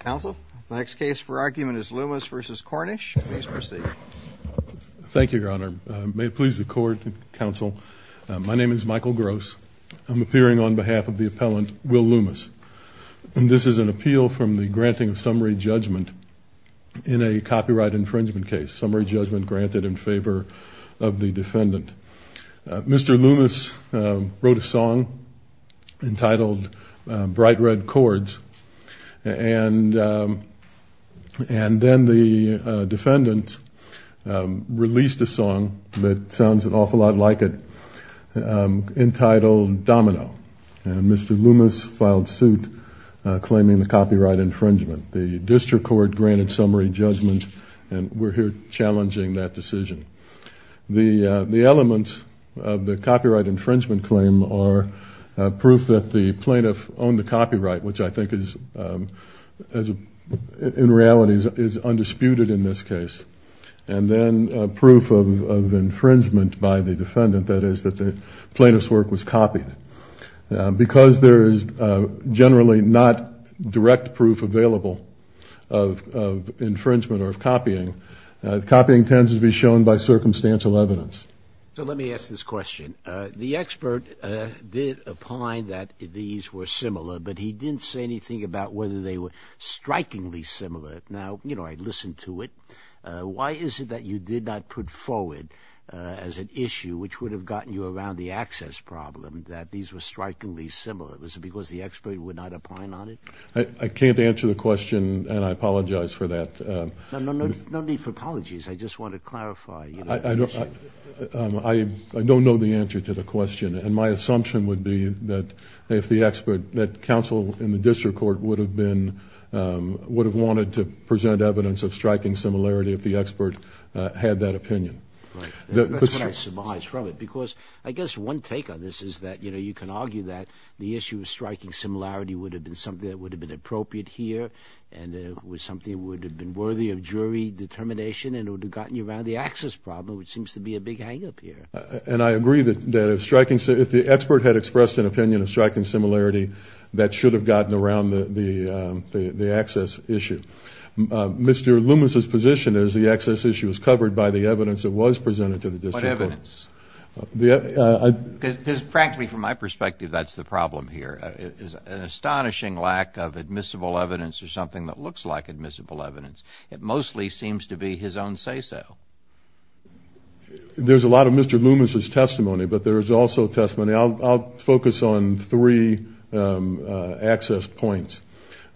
Counsel, the next case for argument is Loomis v. Cornish. Please proceed. Thank you, Your Honor. May it please the court and counsel, my name is Michael Gross. I'm appearing on behalf of the appellant, Will Loomis, and this is an appeal from the granting of summary judgment in a copyright infringement case, summary judgment granted in favor of the defendant. Mr. Loomis wrote a song entitled Bright Red Chords, and then the defendant released a song that sounds an awful lot like it entitled Domino, and Mr. Loomis filed suit claiming the copyright infringement. The district court granted summary judgment, and we're here challenging that decision. The elements of the copyright infringement claim are proof that the plaintiff owned the copyright, which I think is, in reality, is undisputed in this case, and then proof of infringement by the defendant, that is, that the plaintiff's work was copied. Because there is generally not direct proof available of infringement or of copying, copying tends to be shown by circumstantial evidence. So let me ask this question. The expert did opine that these were similar, but he didn't say anything about whether they were strikingly similar. Now, you know, I listened to it. Why is it that you did not put forward as an issue, which would have gotten you around the access problem, that these were strikingly similar? Was it because the expert would not opine on it? I can't answer the question, and I apologize for that. No need for apologies. I just want to clarify. I don't know the answer to the question, and my assumption would be that if the expert, that counsel in the district court would have been, would have wanted to present evidence of striking similarity if the expert had that opinion. Right. That's what I surmise from it, because I guess one take on this is that, you know, you can argue that the issue of striking similarity would have been something that would have been appropriate here and something that would have been worthy of jury determination and would have gotten you around the access problem, which seems to be a big hang-up here. And I agree that if the expert had expressed an opinion of striking similarity, that should have gotten around the access issue. Mr. Loomis's position is the access issue is covered by the evidence that was presented to the district court. What evidence? Because, frankly, from my perspective, that's the problem here. An astonishing lack of admissible evidence or something that looks like admissible evidence. It mostly seems to be his own say-so. There's a lot of Mr. Loomis's testimony, but there is also testimony. I'll focus on three access points.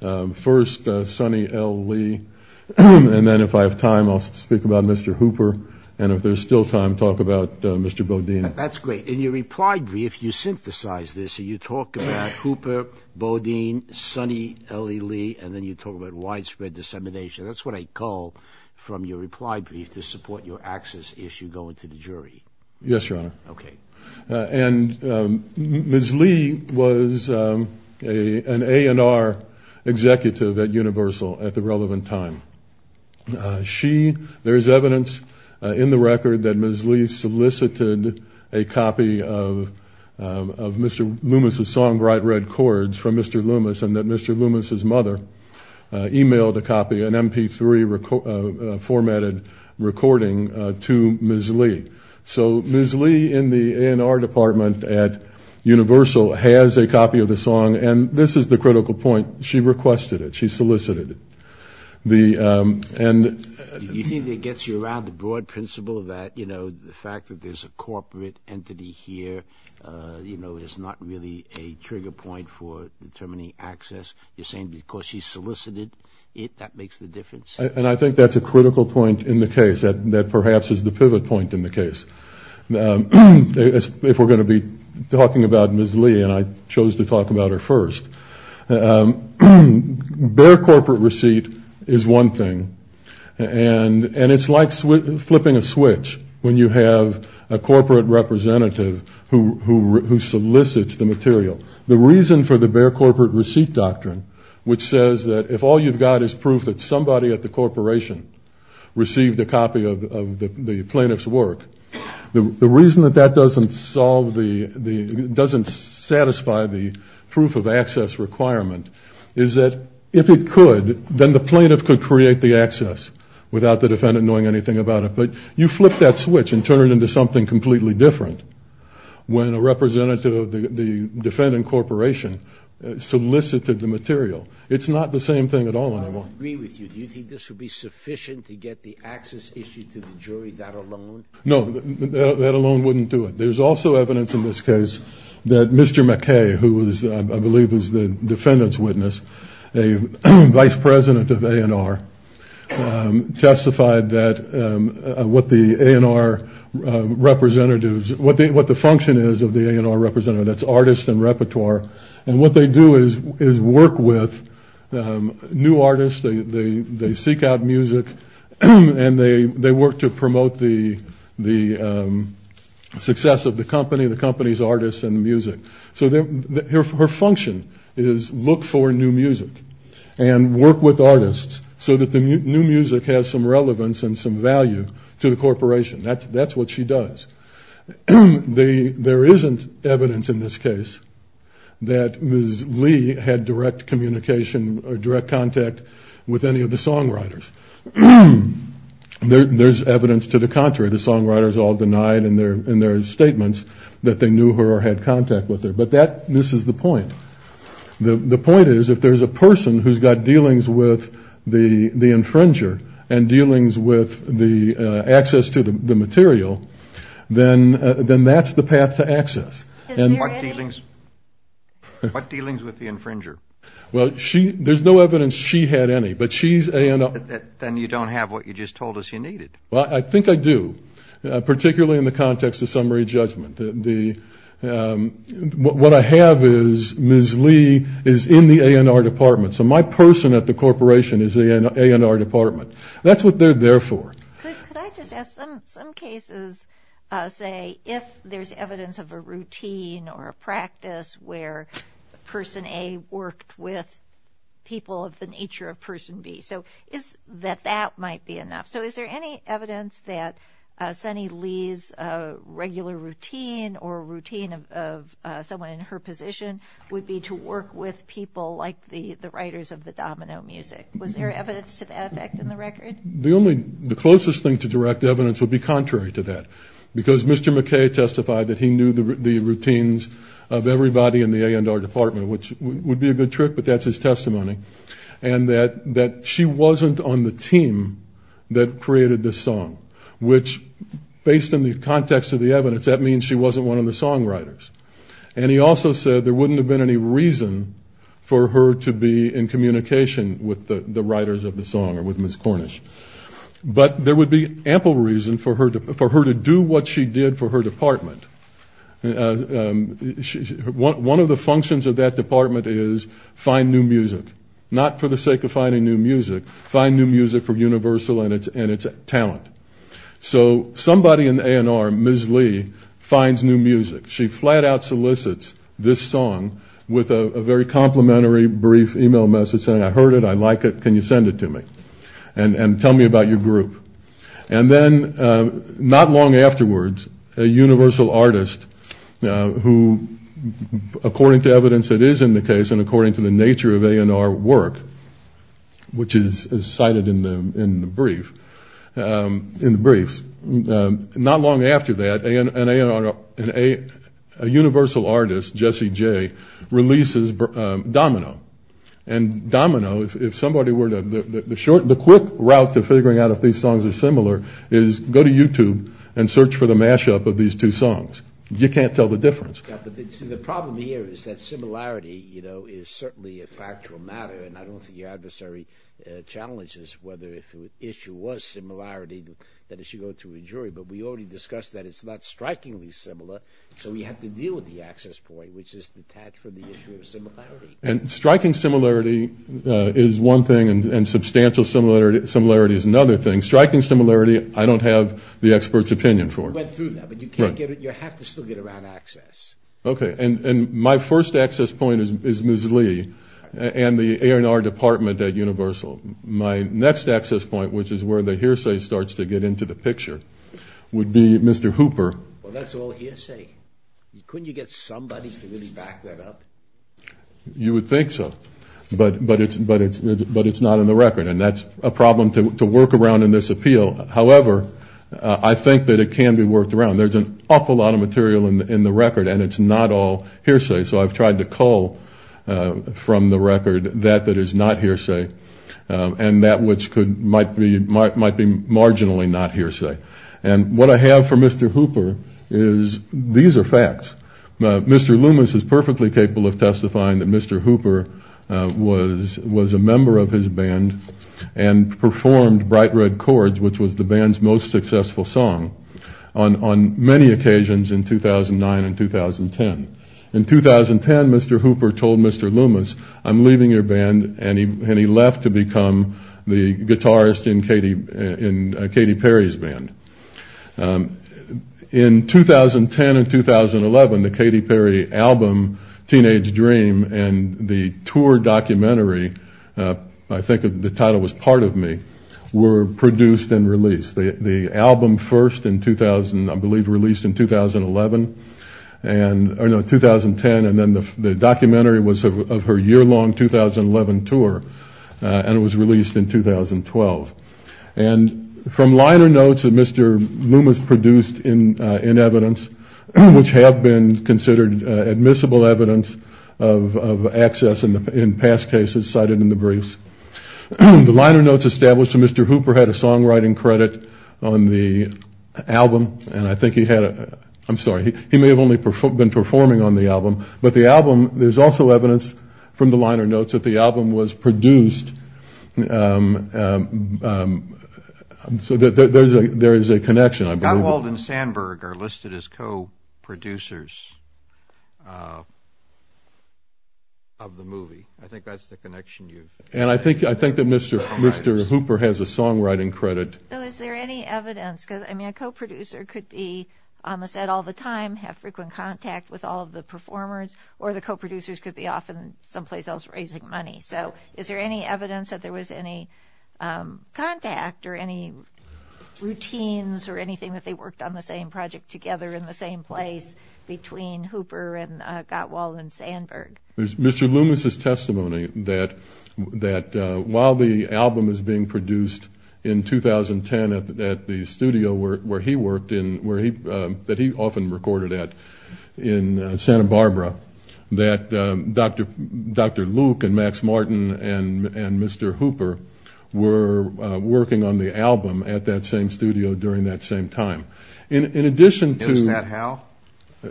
First, Sonny L. Lee, and then if I have time, I'll speak about Mr. Hooper. And if there's still time, talk about Mr. Bodine. That's great. In your reply brief, you synthesize this. You talk about Hooper, Bodine, Sonny L. Lee, and then you talk about widespread dissemination. That's what I call from your reply brief to support your access issue going to the jury. Yes, Your Honor. Okay. And Ms. Lee was an A&R executive at Universal at the relevant time. There's evidence in the record that Ms. Lee solicited a copy of Mr. Loomis's song, Bright Red Chords, from Mr. Loomis, and that Mr. Loomis's mother emailed a copy, an MP3 formatted recording to Ms. Lee. So Ms. Lee in the A&R department at Universal has a copy of the song, and this is the critical point. She requested it. She solicited it. Do you think it gets you around the broad principle that, you know, the fact that there's a corporate entity here, you know, is not really a trigger point for determining access? You're saying because she solicited it, that makes the difference? And I think that's a critical point in the case, that perhaps is the pivot point in the case. If we're going to be talking about Ms. Lee, and I chose to talk about her first, bare corporate receipt is one thing, and it's like flipping a switch when you have a corporate representative who solicits the material. The reason for the bare corporate receipt doctrine, which says that if all you've got is proof that somebody at the corporation received a copy of the plaintiff's work, the reason that that doesn't satisfy the proof of access requirement is that if it could, then the plaintiff could create the access without the defendant knowing anything about it. But you flip that switch and turn it into something completely different when a representative of the defendant corporation solicited the material. It's not the same thing at all anymore. I don't agree with you. Do you think this would be sufficient to get the access issued to the jury, that alone? No, that alone wouldn't do it. There's also evidence in this case that Mr. McKay, who I believe is the defendant's witness, a vice president of A&R, testified that what the function is of the A&R representative, that's artist and repertoire, and what they do is work with new artists. They seek out music and they work to promote the success of the company, the company's artists and music. So her function is look for new music and work with artists so that the new music has some relevance and some value to the corporation. That's what she does. There isn't evidence in this case that Ms. Lee had direct communication or direct contact with any of the songwriters. There's evidence to the contrary. The songwriters all denied in their statements that they knew her or had contact with her. But this is the point. The point is if there's a person who's got dealings with the infringer and dealings with the access to the material, then that's the path to access. Is there any? What dealings with the infringer? Well, there's no evidence she had any, but she's A&R. Then you don't have what you just told us you needed. Well, I think I do, particularly in the context of summary judgment. What I have is Ms. Lee is in the A&R department. So my person at the corporation is in the A&R department. That's what they're there for. Could I just ask, some cases say if there's evidence of a routine or a practice where person A worked with people of the nature of person B. So that that might be enough. So is there any evidence that Sunny Lee's regular routine or routine of someone in her position would be to work with people like the writers of the domino music? Was there evidence to that effect in the record? The closest thing to direct evidence would be contrary to that, because Mr. McKay testified that he knew the routines of everybody in the A&R department, which would be a good trick, but that's his testimony, and that she wasn't on the team that created this song, which based on the context of the evidence, that means she wasn't one of the songwriters. And he also said there wouldn't have been any reason for her to be in communication with the writers of the song or with Ms. Cornish, but there would be ample reason for her to do what she did for her department. One of the functions of that department is find new music, not for the sake of finding new music, find new music for Universal and its talent. So somebody in the A&R, Ms. Lee, finds new music. She flat out solicits this song with a very complimentary brief e-mail message saying, I heard it, I like it, can you send it to me? And tell me about your group. And then not long afterwards, a Universal artist who, according to evidence that is in the case and according to the nature of A&R work, which is cited in the briefs, not long after that, an A&R, a Universal artist, Jesse Jay, releases Domino. And Domino, if somebody were to, the short, the quick route to figuring out if these songs are similar is go to YouTube and search for the mashup of these two songs. You can't tell the difference. The problem here is that similarity, you know, is certainly a factual matter, and I don't think your adversary challenges whether if the issue was similarity, that it should go to a jury, but we already discussed that it's not strikingly similar, so we have to deal with the access point, which is detached from the issue of similarity. And striking similarity is one thing, and substantial similarity is another thing. Striking similarity, I don't have the expert's opinion for. Right through that, but you have to still get around access. Okay. And my first access point is Ms. Lee and the A&R department at Universal. My next access point, which is where the hearsay starts to get into the picture, would be Mr. Hooper. Well, that's all hearsay. Couldn't you get somebody to really back that up? You would think so, but it's not in the record, and that's a problem to work around in this appeal. However, I think that it can be worked around. There's an awful lot of material in the record, and it's not all hearsay, so I've tried to cull from the record that that is not hearsay and that which might be marginally not hearsay. And what I have for Mr. Hooper is these are facts. Mr. Loomis is perfectly capable of testifying that Mr. Hooper was a member of his band and performed Bright Red Chords, which was the band's most successful song, on many occasions in 2009 and 2010. In 2010, Mr. Hooper told Mr. Loomis, I'm leaving your band, and he left to become the guitarist in Katy Perry's band. In 2010 and 2011, the Katy Perry album, Teenage Dream, and the tour documentary, I think the title was Part of Me, were produced and released. The album first, I believe, released in 2011, or no, 2010, and then the documentary was of her year-long 2011 tour, and it was released in 2012. And from liner notes that Mr. Loomis produced in evidence, which have been considered admissible evidence of access in past cases cited in the briefs, the liner notes established that Mr. Hooper had a songwriting credit on the album, and I think he had a, I'm sorry, he may have only been performing on the album, but the album, there's also evidence from the liner notes that the album was produced. So there is a connection, I believe. Gotwald and Sandberg are listed as co-producers of the movie. I think that's the connection you've made. And I think that Mr. Hooper has a songwriting credit. So is there any evidence, because, I mean, a co-producer could be on the set all the time, have frequent contact with all of the performers, or the co-producers could be off in someplace else raising money. So is there any evidence that there was any contact or any routines or anything that they worked on the same project together in the same place between Hooper and Gotwald and Sandberg? There's Mr. Loomis' testimony that while the album is being produced in 2010 at the studio where he worked, that he often recorded at in Santa Barbara, that Dr. Luke and Max Martin and Mr. Hooper were working on the album at that same studio during that same time. In addition to – Knows that how?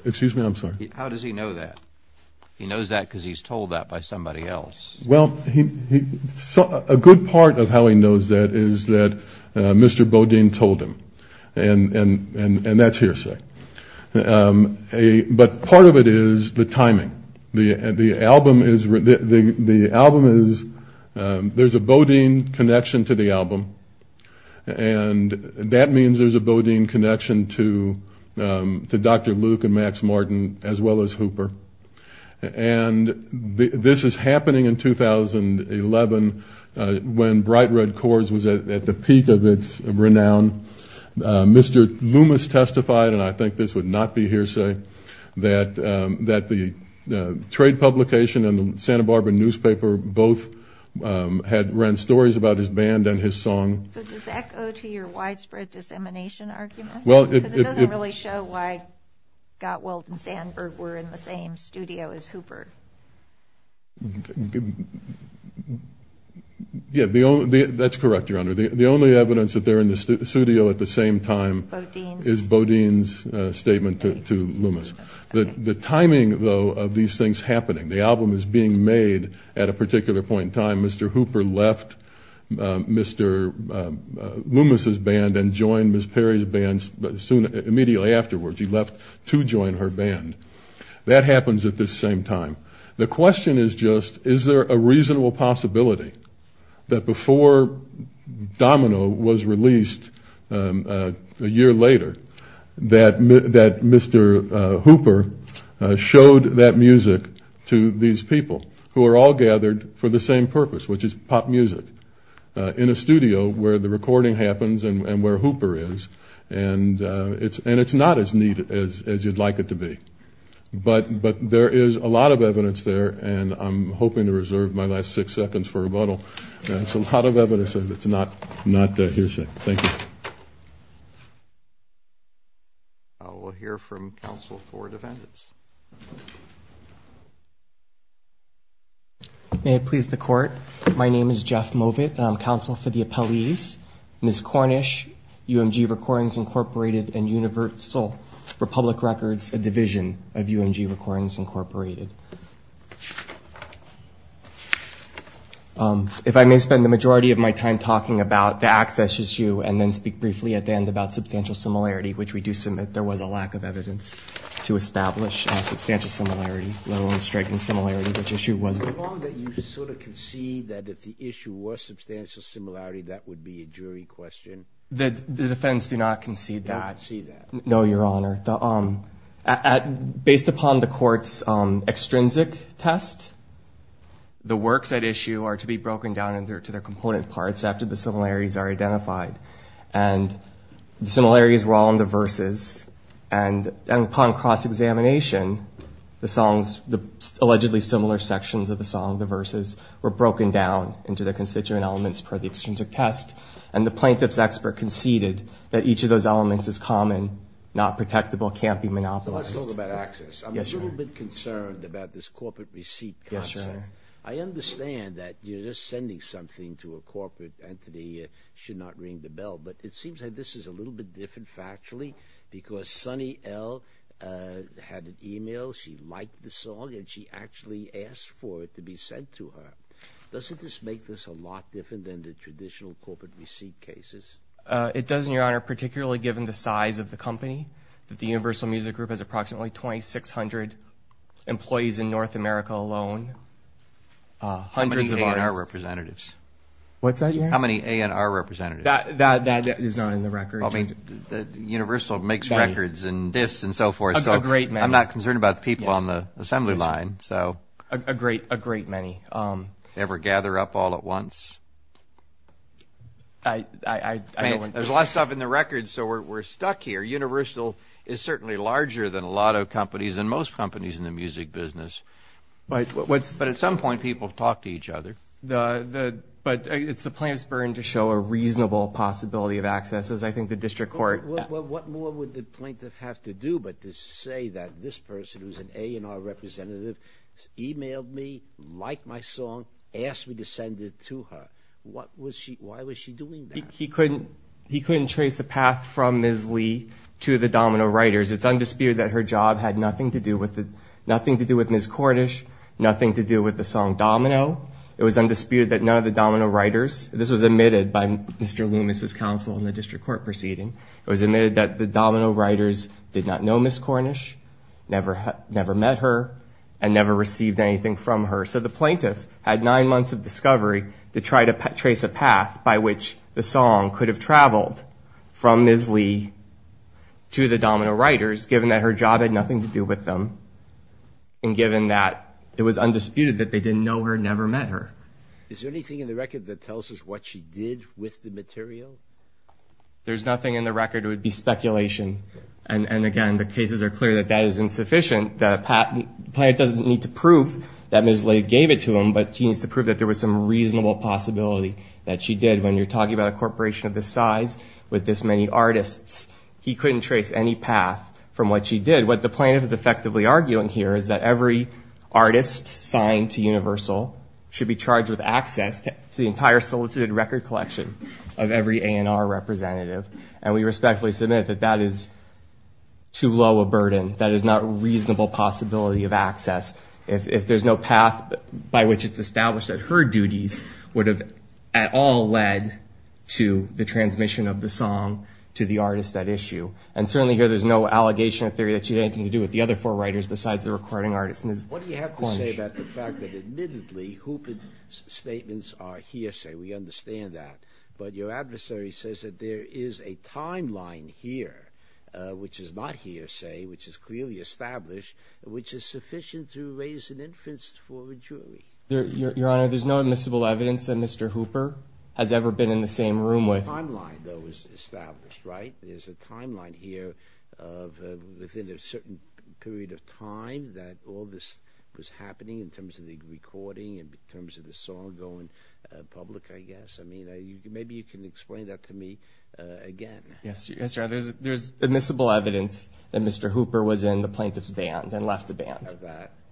Excuse me, I'm sorry. How does he know that? He knows that because he's told that by somebody else. Well, a good part of how he knows that is that Mr. Bodine told him. And that's hearsay. But part of it is the timing. The album is – there's a Bodine connection to the album, and that means there's a Bodine connection to Dr. Luke and Max Martin as well as Hooper. And this is happening in 2011 when Bright Red Chords was at the peak of its renown. Mr. Loomis testified, and I think this would not be hearsay, that the trade publication and the Santa Barbara newspaper both ran stories about his band and his song. So does that go to your widespread dissemination argument? Because it doesn't really show why Gottwald and Sandberg were in the same studio as Hooper. Yeah, that's correct, Your Honor. The only evidence that they're in the studio at the same time is Bodine's statement to Loomis. The timing, though, of these things happening, the album is being made at a particular point in time. Mr. Hooper left Mr. Loomis's band and joined Ms. Perry's band immediately afterwards. He left to join her band. That happens at this same time. The question is just, is there a reasonable possibility that before Domino was released a year later, that Mr. Hooper showed that music to these people who are all gathered for the same purpose, which is pop music, in a studio where the recording happens and where Hooper is, and it's not as neat as you'd like it to be. But there is a lot of evidence there, and I'm hoping to reserve my last six seconds for rebuttal. It's a lot of evidence. It's not hearsay. Thank you. We'll hear from counsel for defendants. May it please the Court. My name is Jeff Movit, and I'm counsel for the appellees. Ms. Cornish, UMG Recordings Incorporated, and Universal for Public Records, a division of UMG Recordings Incorporated. If I may spend the majority of my time talking about the access issue and then speak briefly at the end about substantial similarity, which we do submit there was a lack of evidence to establish substantial similarity, low and striking similarity, which issue was it? So long that you sort of concede that if the issue was substantial similarity, that would be a jury question. The defense do not concede that. I see that. No, Your Honor. Based upon the Court's extrinsic test, the works at issue are to be broken down into their component parts after the similarities are identified. And the similarities were all in the verses, and upon cross-examination, the songs, the allegedly similar sections of the song, the verses, were broken down into their constituent elements per the extrinsic test. And the plaintiff's expert conceded that each of those elements is common, not protectable, can't be monopolized. Let's talk about access. Yes, Your Honor. I'm a little bit concerned about this corporate receipt concept. Yes, Your Honor. But it seems like this is a little bit different factually because Sunny L. had an e-mail. She liked the song, and she actually asked for it to be sent to her. Doesn't this make this a lot different than the traditional corporate receipt cases? It does, Your Honor, particularly given the size of the company, that the Universal Music Group has approximately 2,600 employees in North America alone. Hundreds of artists. How many A&R representatives? What's that, Your Honor? How many A&R representatives? That is not in the record. Universal makes records and discs and so forth. A great many. I'm not concerned about the people on the assembly line. A great many. Ever gather up all at once? I don't think so. There's a lot of stuff in the records, so we're stuck here. Universal is certainly larger than a lot of companies and most companies in the music business. But at some point, people talk to each other. But it's the plaintiff's burden to show a reasonable possibility of access, as I think the district court. What more would the plaintiff have to do but to say that this person, who's an A&R representative, e-mailed me, liked my song, asked me to send it to her? Why was she doing that? He couldn't trace a path from Ms. Lee to the Domino writers. It's undisputed that her job had nothing to do with Ms. Cordish, nothing to do with the song Domino. It was undisputed that none of the Domino writers, this was admitted by Mr. Loomis' counsel in the district court proceeding, it was admitted that the Domino writers did not know Ms. Cordish, never met her, and never received anything from her. So the plaintiff had nine months of discovery to try to trace a path by which the song could have traveled from Ms. Lee to the Domino writers, given that her job had nothing to do with them, and given that it was undisputed that they didn't know her, never met her. Is there anything in the record that tells us what she did with the material? There's nothing in the record. It would be speculation. And, again, the cases are clear that that is insufficient. The plaintiff doesn't need to prove that Ms. Lee gave it to him, but he needs to prove that there was some reasonable possibility that she did. When you're talking about a corporation of this size with this many artists, he couldn't trace any path from what she did. What the plaintiff is effectively arguing here is that every artist signed to Universal should be charged with access to the entire solicited record collection of every A&R representative. And we respectfully submit that that is too low a burden. That is not a reasonable possibility of access. If there's no path by which it's established that her duties would have at all led to the transmission of the song to the artist at issue. And certainly here there's no allegation or theory that she had anything to do with the other four writers besides the recording artist, Ms. Cornish. What do you have to say about the fact that, admittedly, Hooper's statements are hearsay? We understand that. But your adversary says that there is a timeline here, which is not hearsay, which is clearly established, which is sufficient to raise an inference for a jury. Your Honor, there's no admissible evidence that Mr. Hooper has ever been in the same room with. There's a timeline that was established, right? There's a timeline here of within a certain period of time that all this was happening in terms of the recording, in terms of the song going public, I guess. I mean, maybe you can explain that to me again. Yes, Your Honor. There's admissible evidence that Mr. Hooper was in the plaintiff's band and left the band.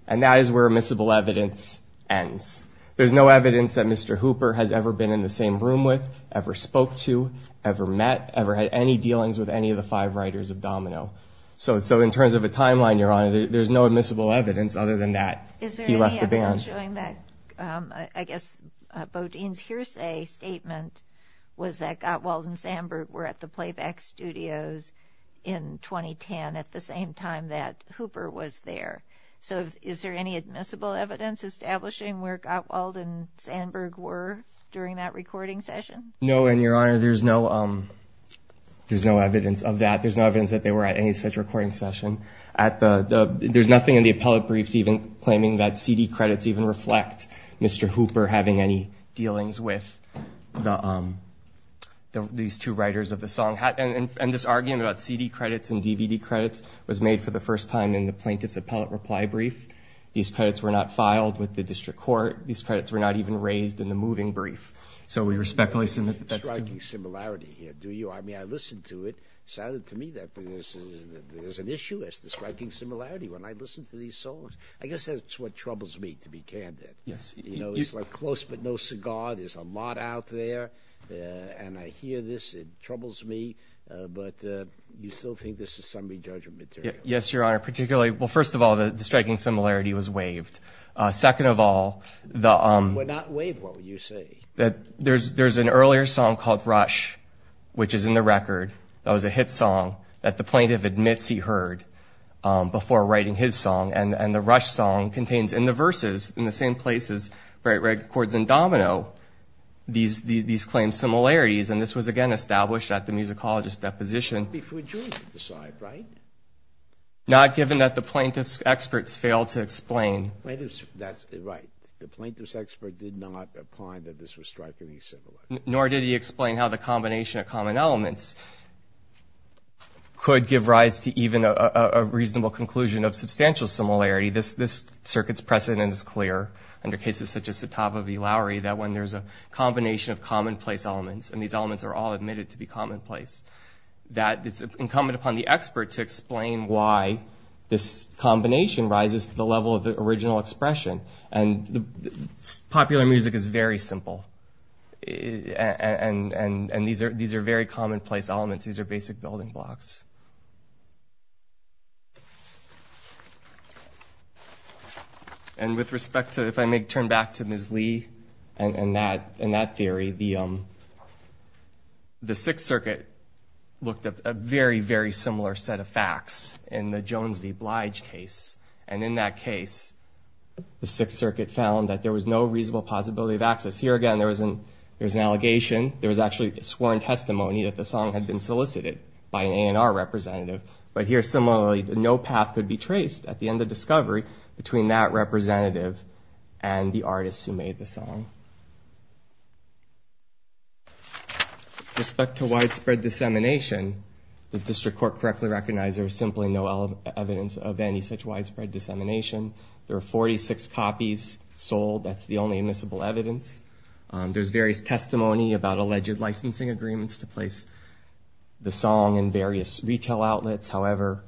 And that is where admissible evidence ends. There's no evidence that Mr. Hooper has ever been in the same room with, ever spoke to, ever met, ever had any dealings with any of the five writers of Domino. So in terms of a timeline, Your Honor, there's no admissible evidence other than that he left the band. Is there any evidence showing that, I guess, Bo Dean's hearsay statement was that Gottwald and Sandberg were at the Playback Studios in 2010 at the same time that Hooper was there? So is there any admissible evidence establishing where Gottwald and Sandberg were during that recording session? No, and Your Honor, there's no evidence of that. There's no evidence that they were at any such recording session. There's nothing in the appellate briefs even claiming that CD credits even reflect Mr. Hooper having any dealings with these two writers of the song. And this argument about CD credits and DVD credits was made for the first time in the plaintiff's appellate reply brief. These credits were not filed with the district court. These credits were not even raised in the moving brief. So we respectfully submit that that's true. There's a striking similarity here, do you? I mean, I listened to it. It sounded to me that there's an issue. There's a striking similarity when I listen to these songs. I guess that's what troubles me, to be candid. You know, it's like close but no cigar. There's a lot out there. And I hear this. It troubles me. But you still think this is summary judgment material? Yes, Your Honor, particularly. Well, first of all, the striking similarity was waived. Second of all, there's an earlier song called Rush, which is in the record. That was a hit song that the plaintiff admits he heard before writing his song. And the Rush song contains in the verses, in the same places, bright red chords and domino, these claimed similarities. And this was, again, established at the musicologist's deposition. Before Julian decided, right? Not given that the plaintiff's experts failed to explain. Right. The plaintiff's expert did not find that this was strikingly similar. Nor did he explain how the combination of common elements could give rise to even a reasonable conclusion of substantial similarity. This circuit's precedent is clear under cases such as Sattava v. Lowry, that when there's a combination of commonplace elements, and these elements are all admitted to be commonplace, that it's incumbent upon the expert to explain why this combination rises to the level of the original expression. And popular music is very simple. And these are very commonplace elements. These are basic building blocks. And with respect to, if I may turn back to Ms. Lee and that theory, the Sixth Circuit looked at a very, very similar set of facts in the Jones v. Blige case. And in that case, the Sixth Circuit found that there was no reasonable possibility of access. Here, again, there was an allegation. There was actually sworn testimony that the song had been solicited by an A&R representative. But here, similarly, no path could be traced at the end of discovery between that representative and the artist who made the song. With respect to widespread dissemination, the district court correctly recognized there was simply no evidence of any such widespread dissemination. There are 46 copies sold. That's the only admissible evidence. There's various testimony about alleged licensing agreements to place the song in various retail outlets. However,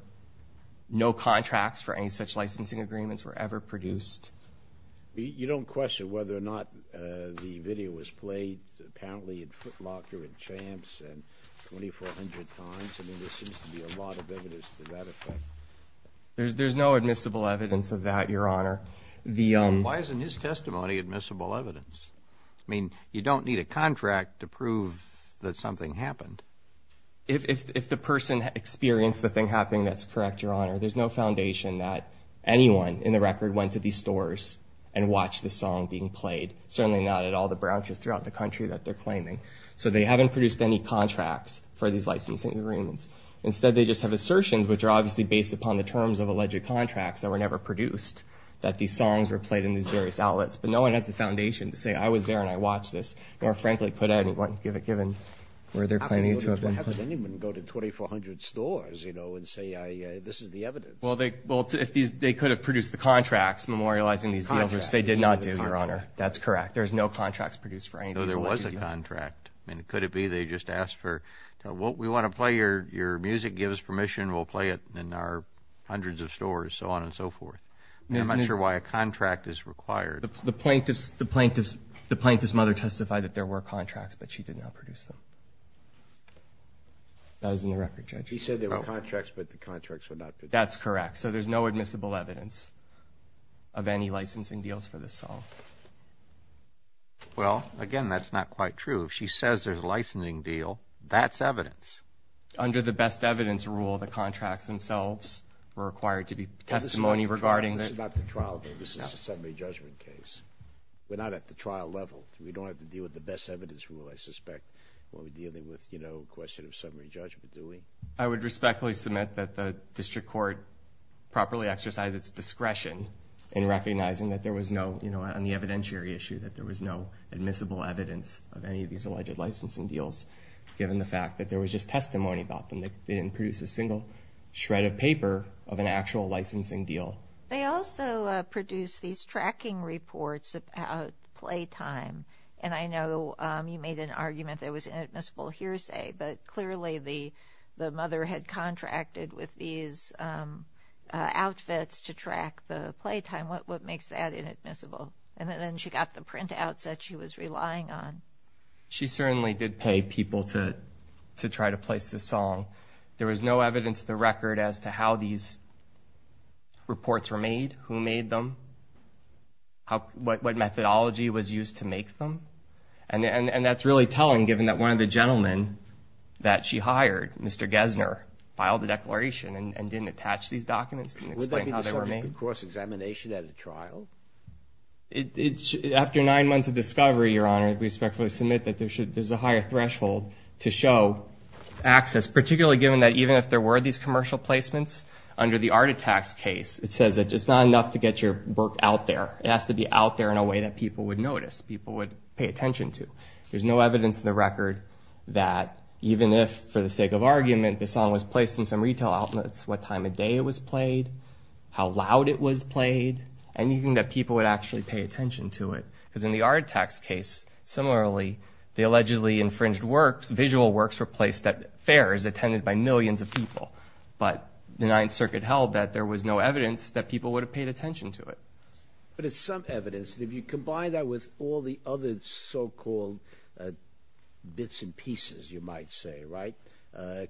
no contracts for any such licensing agreements were ever produced. You don't question whether or not the video was played apparently in Foot Locker and Champs 2,400 times? I mean, there seems to be a lot of evidence to that effect. There's no admissible evidence of that, Your Honor. Why isn't his testimony admissible evidence? I mean, you don't need a contract to prove that something happened. If the person experienced the thing happening, that's correct, Your Honor. There's no foundation that anyone in the record went to these stores and watched the song being played, certainly not at all the branches throughout the country that they're claiming. So they haven't produced any contracts for these licensing agreements. Instead, they just have assertions, which are obviously based upon the terms of alleged contracts that were never produced, that these songs were played in these various outlets. But no one has the foundation to say, I was there and I watched this, more frankly, given where they're claiming to have been. Why would anyone go to 2,400 stores and say, this is the evidence? Well, they could have produced the contracts memorializing these dealers. They did not do, Your Honor. That's correct. There's no contracts produced for any of these. No, there was a contract. I mean, could it be they just asked for, we want to play your music, give us permission, we'll play it in our hundreds of stores, so on and so forth? I'm not sure why a contract is required. The plaintiff's mother testified that there were contracts, but she did not produce them. That was in the record, Judge. She said there were contracts, but the contracts were not produced. That's correct. So there's no admissible evidence of any licensing deals for this song. Well, again, that's not quite true. If she says there's a licensing deal, that's evidence. Under the best evidence rule, the contracts themselves were required to be testimony regarding the – We're not at the trial level. We don't have to deal with the best evidence rule, I suspect, when we're dealing with a question of summary judgment, do we? I would respectfully submit that the district court properly exercised its discretion in recognizing that there was no, on the evidentiary issue, that there was no admissible evidence of any of these alleged licensing deals, given the fact that there was just testimony about them. They didn't produce a single shred of paper of an actual licensing deal. They also produced these tracking reports about playtime, and I know you made an argument there was inadmissible hearsay, but clearly the mother had contracted with these outfits to track the playtime. What makes that inadmissible? And then she got the printouts that she was relying on. She certainly did pay people to try to place this song. There was no evidence of the record as to how these reports were made, who made them, what methodology was used to make them, and that's really telling given that one of the gentlemen that she hired, Mr. Gessner, filed a declaration and didn't attach these documents, didn't explain how they were made. Would that be the subject of cross-examination at a trial? After nine months of discovery, Your Honor, I respectfully submit that there's a higher threshold to show access, particularly given that even if there were these commercial placements, under the Arditax case, it says that it's not enough to get your work out there. It has to be out there in a way that people would notice, people would pay attention to. There's no evidence in the record that even if, for the sake of argument, the song was placed in some retail outlets, what time of day it was played, how loud it was played, anything that people would actually pay attention to it, because in the Arditax case, similarly, the allegedly infringed works, visual works were placed at fairs attended by millions of people, but the Ninth Circuit held that there was no evidence that people would have paid attention to it. But it's some evidence, and if you combine that with all the other so-called bits and pieces, you might say, right,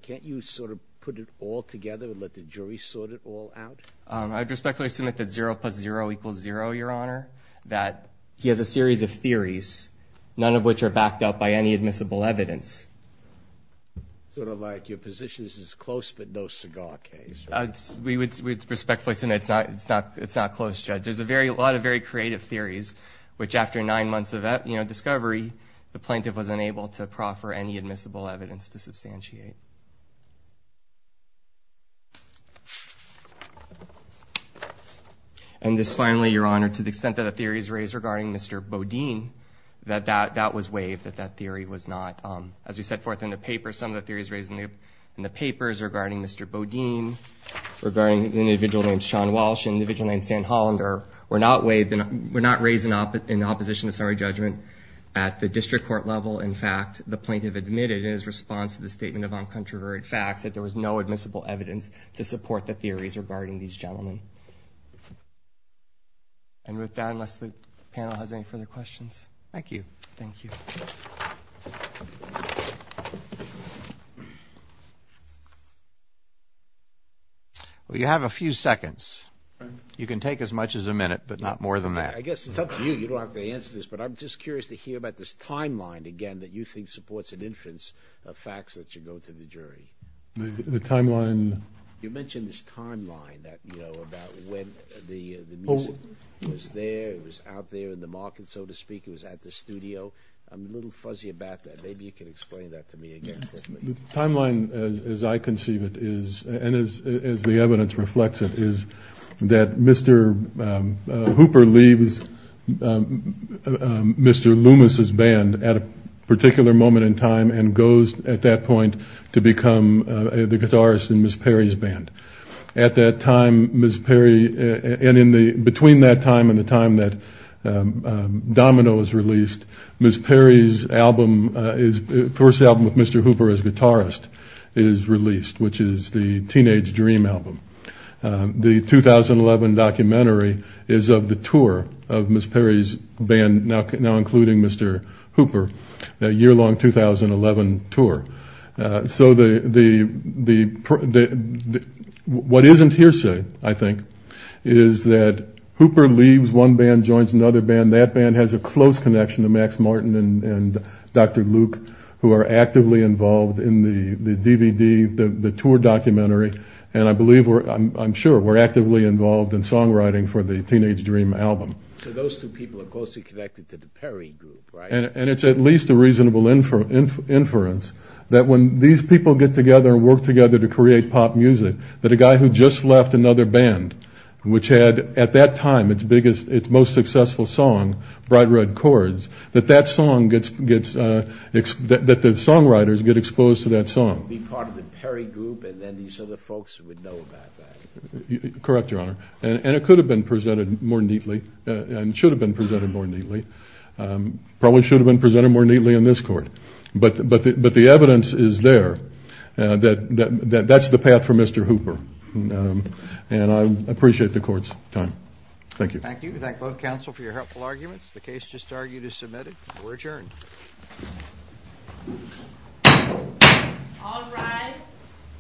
can't you sort of put it all together and let the jury sort it all out? I respectfully submit that zero plus zero equals zero, Your Honor, that he has a series of theories, none of which are backed up by any admissible evidence. Sort of like your position is this is a close but no cigar case. We would respectfully submit it's not close, Judge. There's a lot of very creative theories, which after nine months of discovery, the plaintiff was unable to proffer any admissible evidence to substantiate. Thank you. And just finally, Your Honor, to the extent that a theory is raised regarding Mr. Bodine, that that was waived, that that theory was not. As we set forth in the paper, some of the theories raised in the papers regarding Mr. Bodine, regarding an individual named Sean Walsh, an individual named Stan Hollander, were not waived, were not raised in opposition to summary judgment at the district court level. In fact, the plaintiff admitted in his response to the statement of uncontroverted facts that there was no admissible evidence to support the theories regarding these gentlemen. And with that, unless the panel has any further questions. Thank you. Thank you. Well, you have a few seconds. You can take as much as a minute, but not more than that. I guess it's up to you. You don't have to answer this, but I'm just curious to hear about this timeline again that you think supports an inference of facts that should go to the jury. The timeline. You mentioned this timeline, you know, about when the music was there, it was out there in the market, so to speak, it was at the studio. I'm a little fuzzy about that. Maybe you can explain that to me again quickly. The timeline as I conceive it is, and as the evidence reflects it, is that Mr. Hooper leaves Mr. Loomis' band at a particular moment in time and goes at that point to become the guitarist in Ms. Perry's band. At that time, Ms. Perry, and between that time and the time that Domino was released, Ms. Perry's first album with Mr. Hooper as guitarist is released, which is the Teenage Dream album. The 2011 documentary is of the tour of Ms. Perry's band, now including Mr. Hooper, a year-long 2011 tour. So what isn't hearsay, I think, is that Hooper leaves one band, joins another band. And that band has a close connection to Max Martin and Dr. Luke, who are actively involved in the DVD, the tour documentary. And I'm sure we're actively involved in songwriting for the Teenage Dream album. So those two people are closely connected to the Perry group, right? And it's at least a reasonable inference that when these people get together and work together to create pop music, that a guy who just left another band, which had at that time its most successful song, Bright Red Chords, that the songwriters get exposed to that song. Be part of the Perry group and then these other folks would know about that. Correct, Your Honor. And it could have been presented more neatly and should have been presented more neatly, probably should have been presented more neatly in this court. But the evidence is there that that's the path for Mr. Hooper. And I appreciate the court's time. Thank you. Thank you. We thank both counsel for your helpful arguments. The case just argued is submitted. We're adjourned. All rise.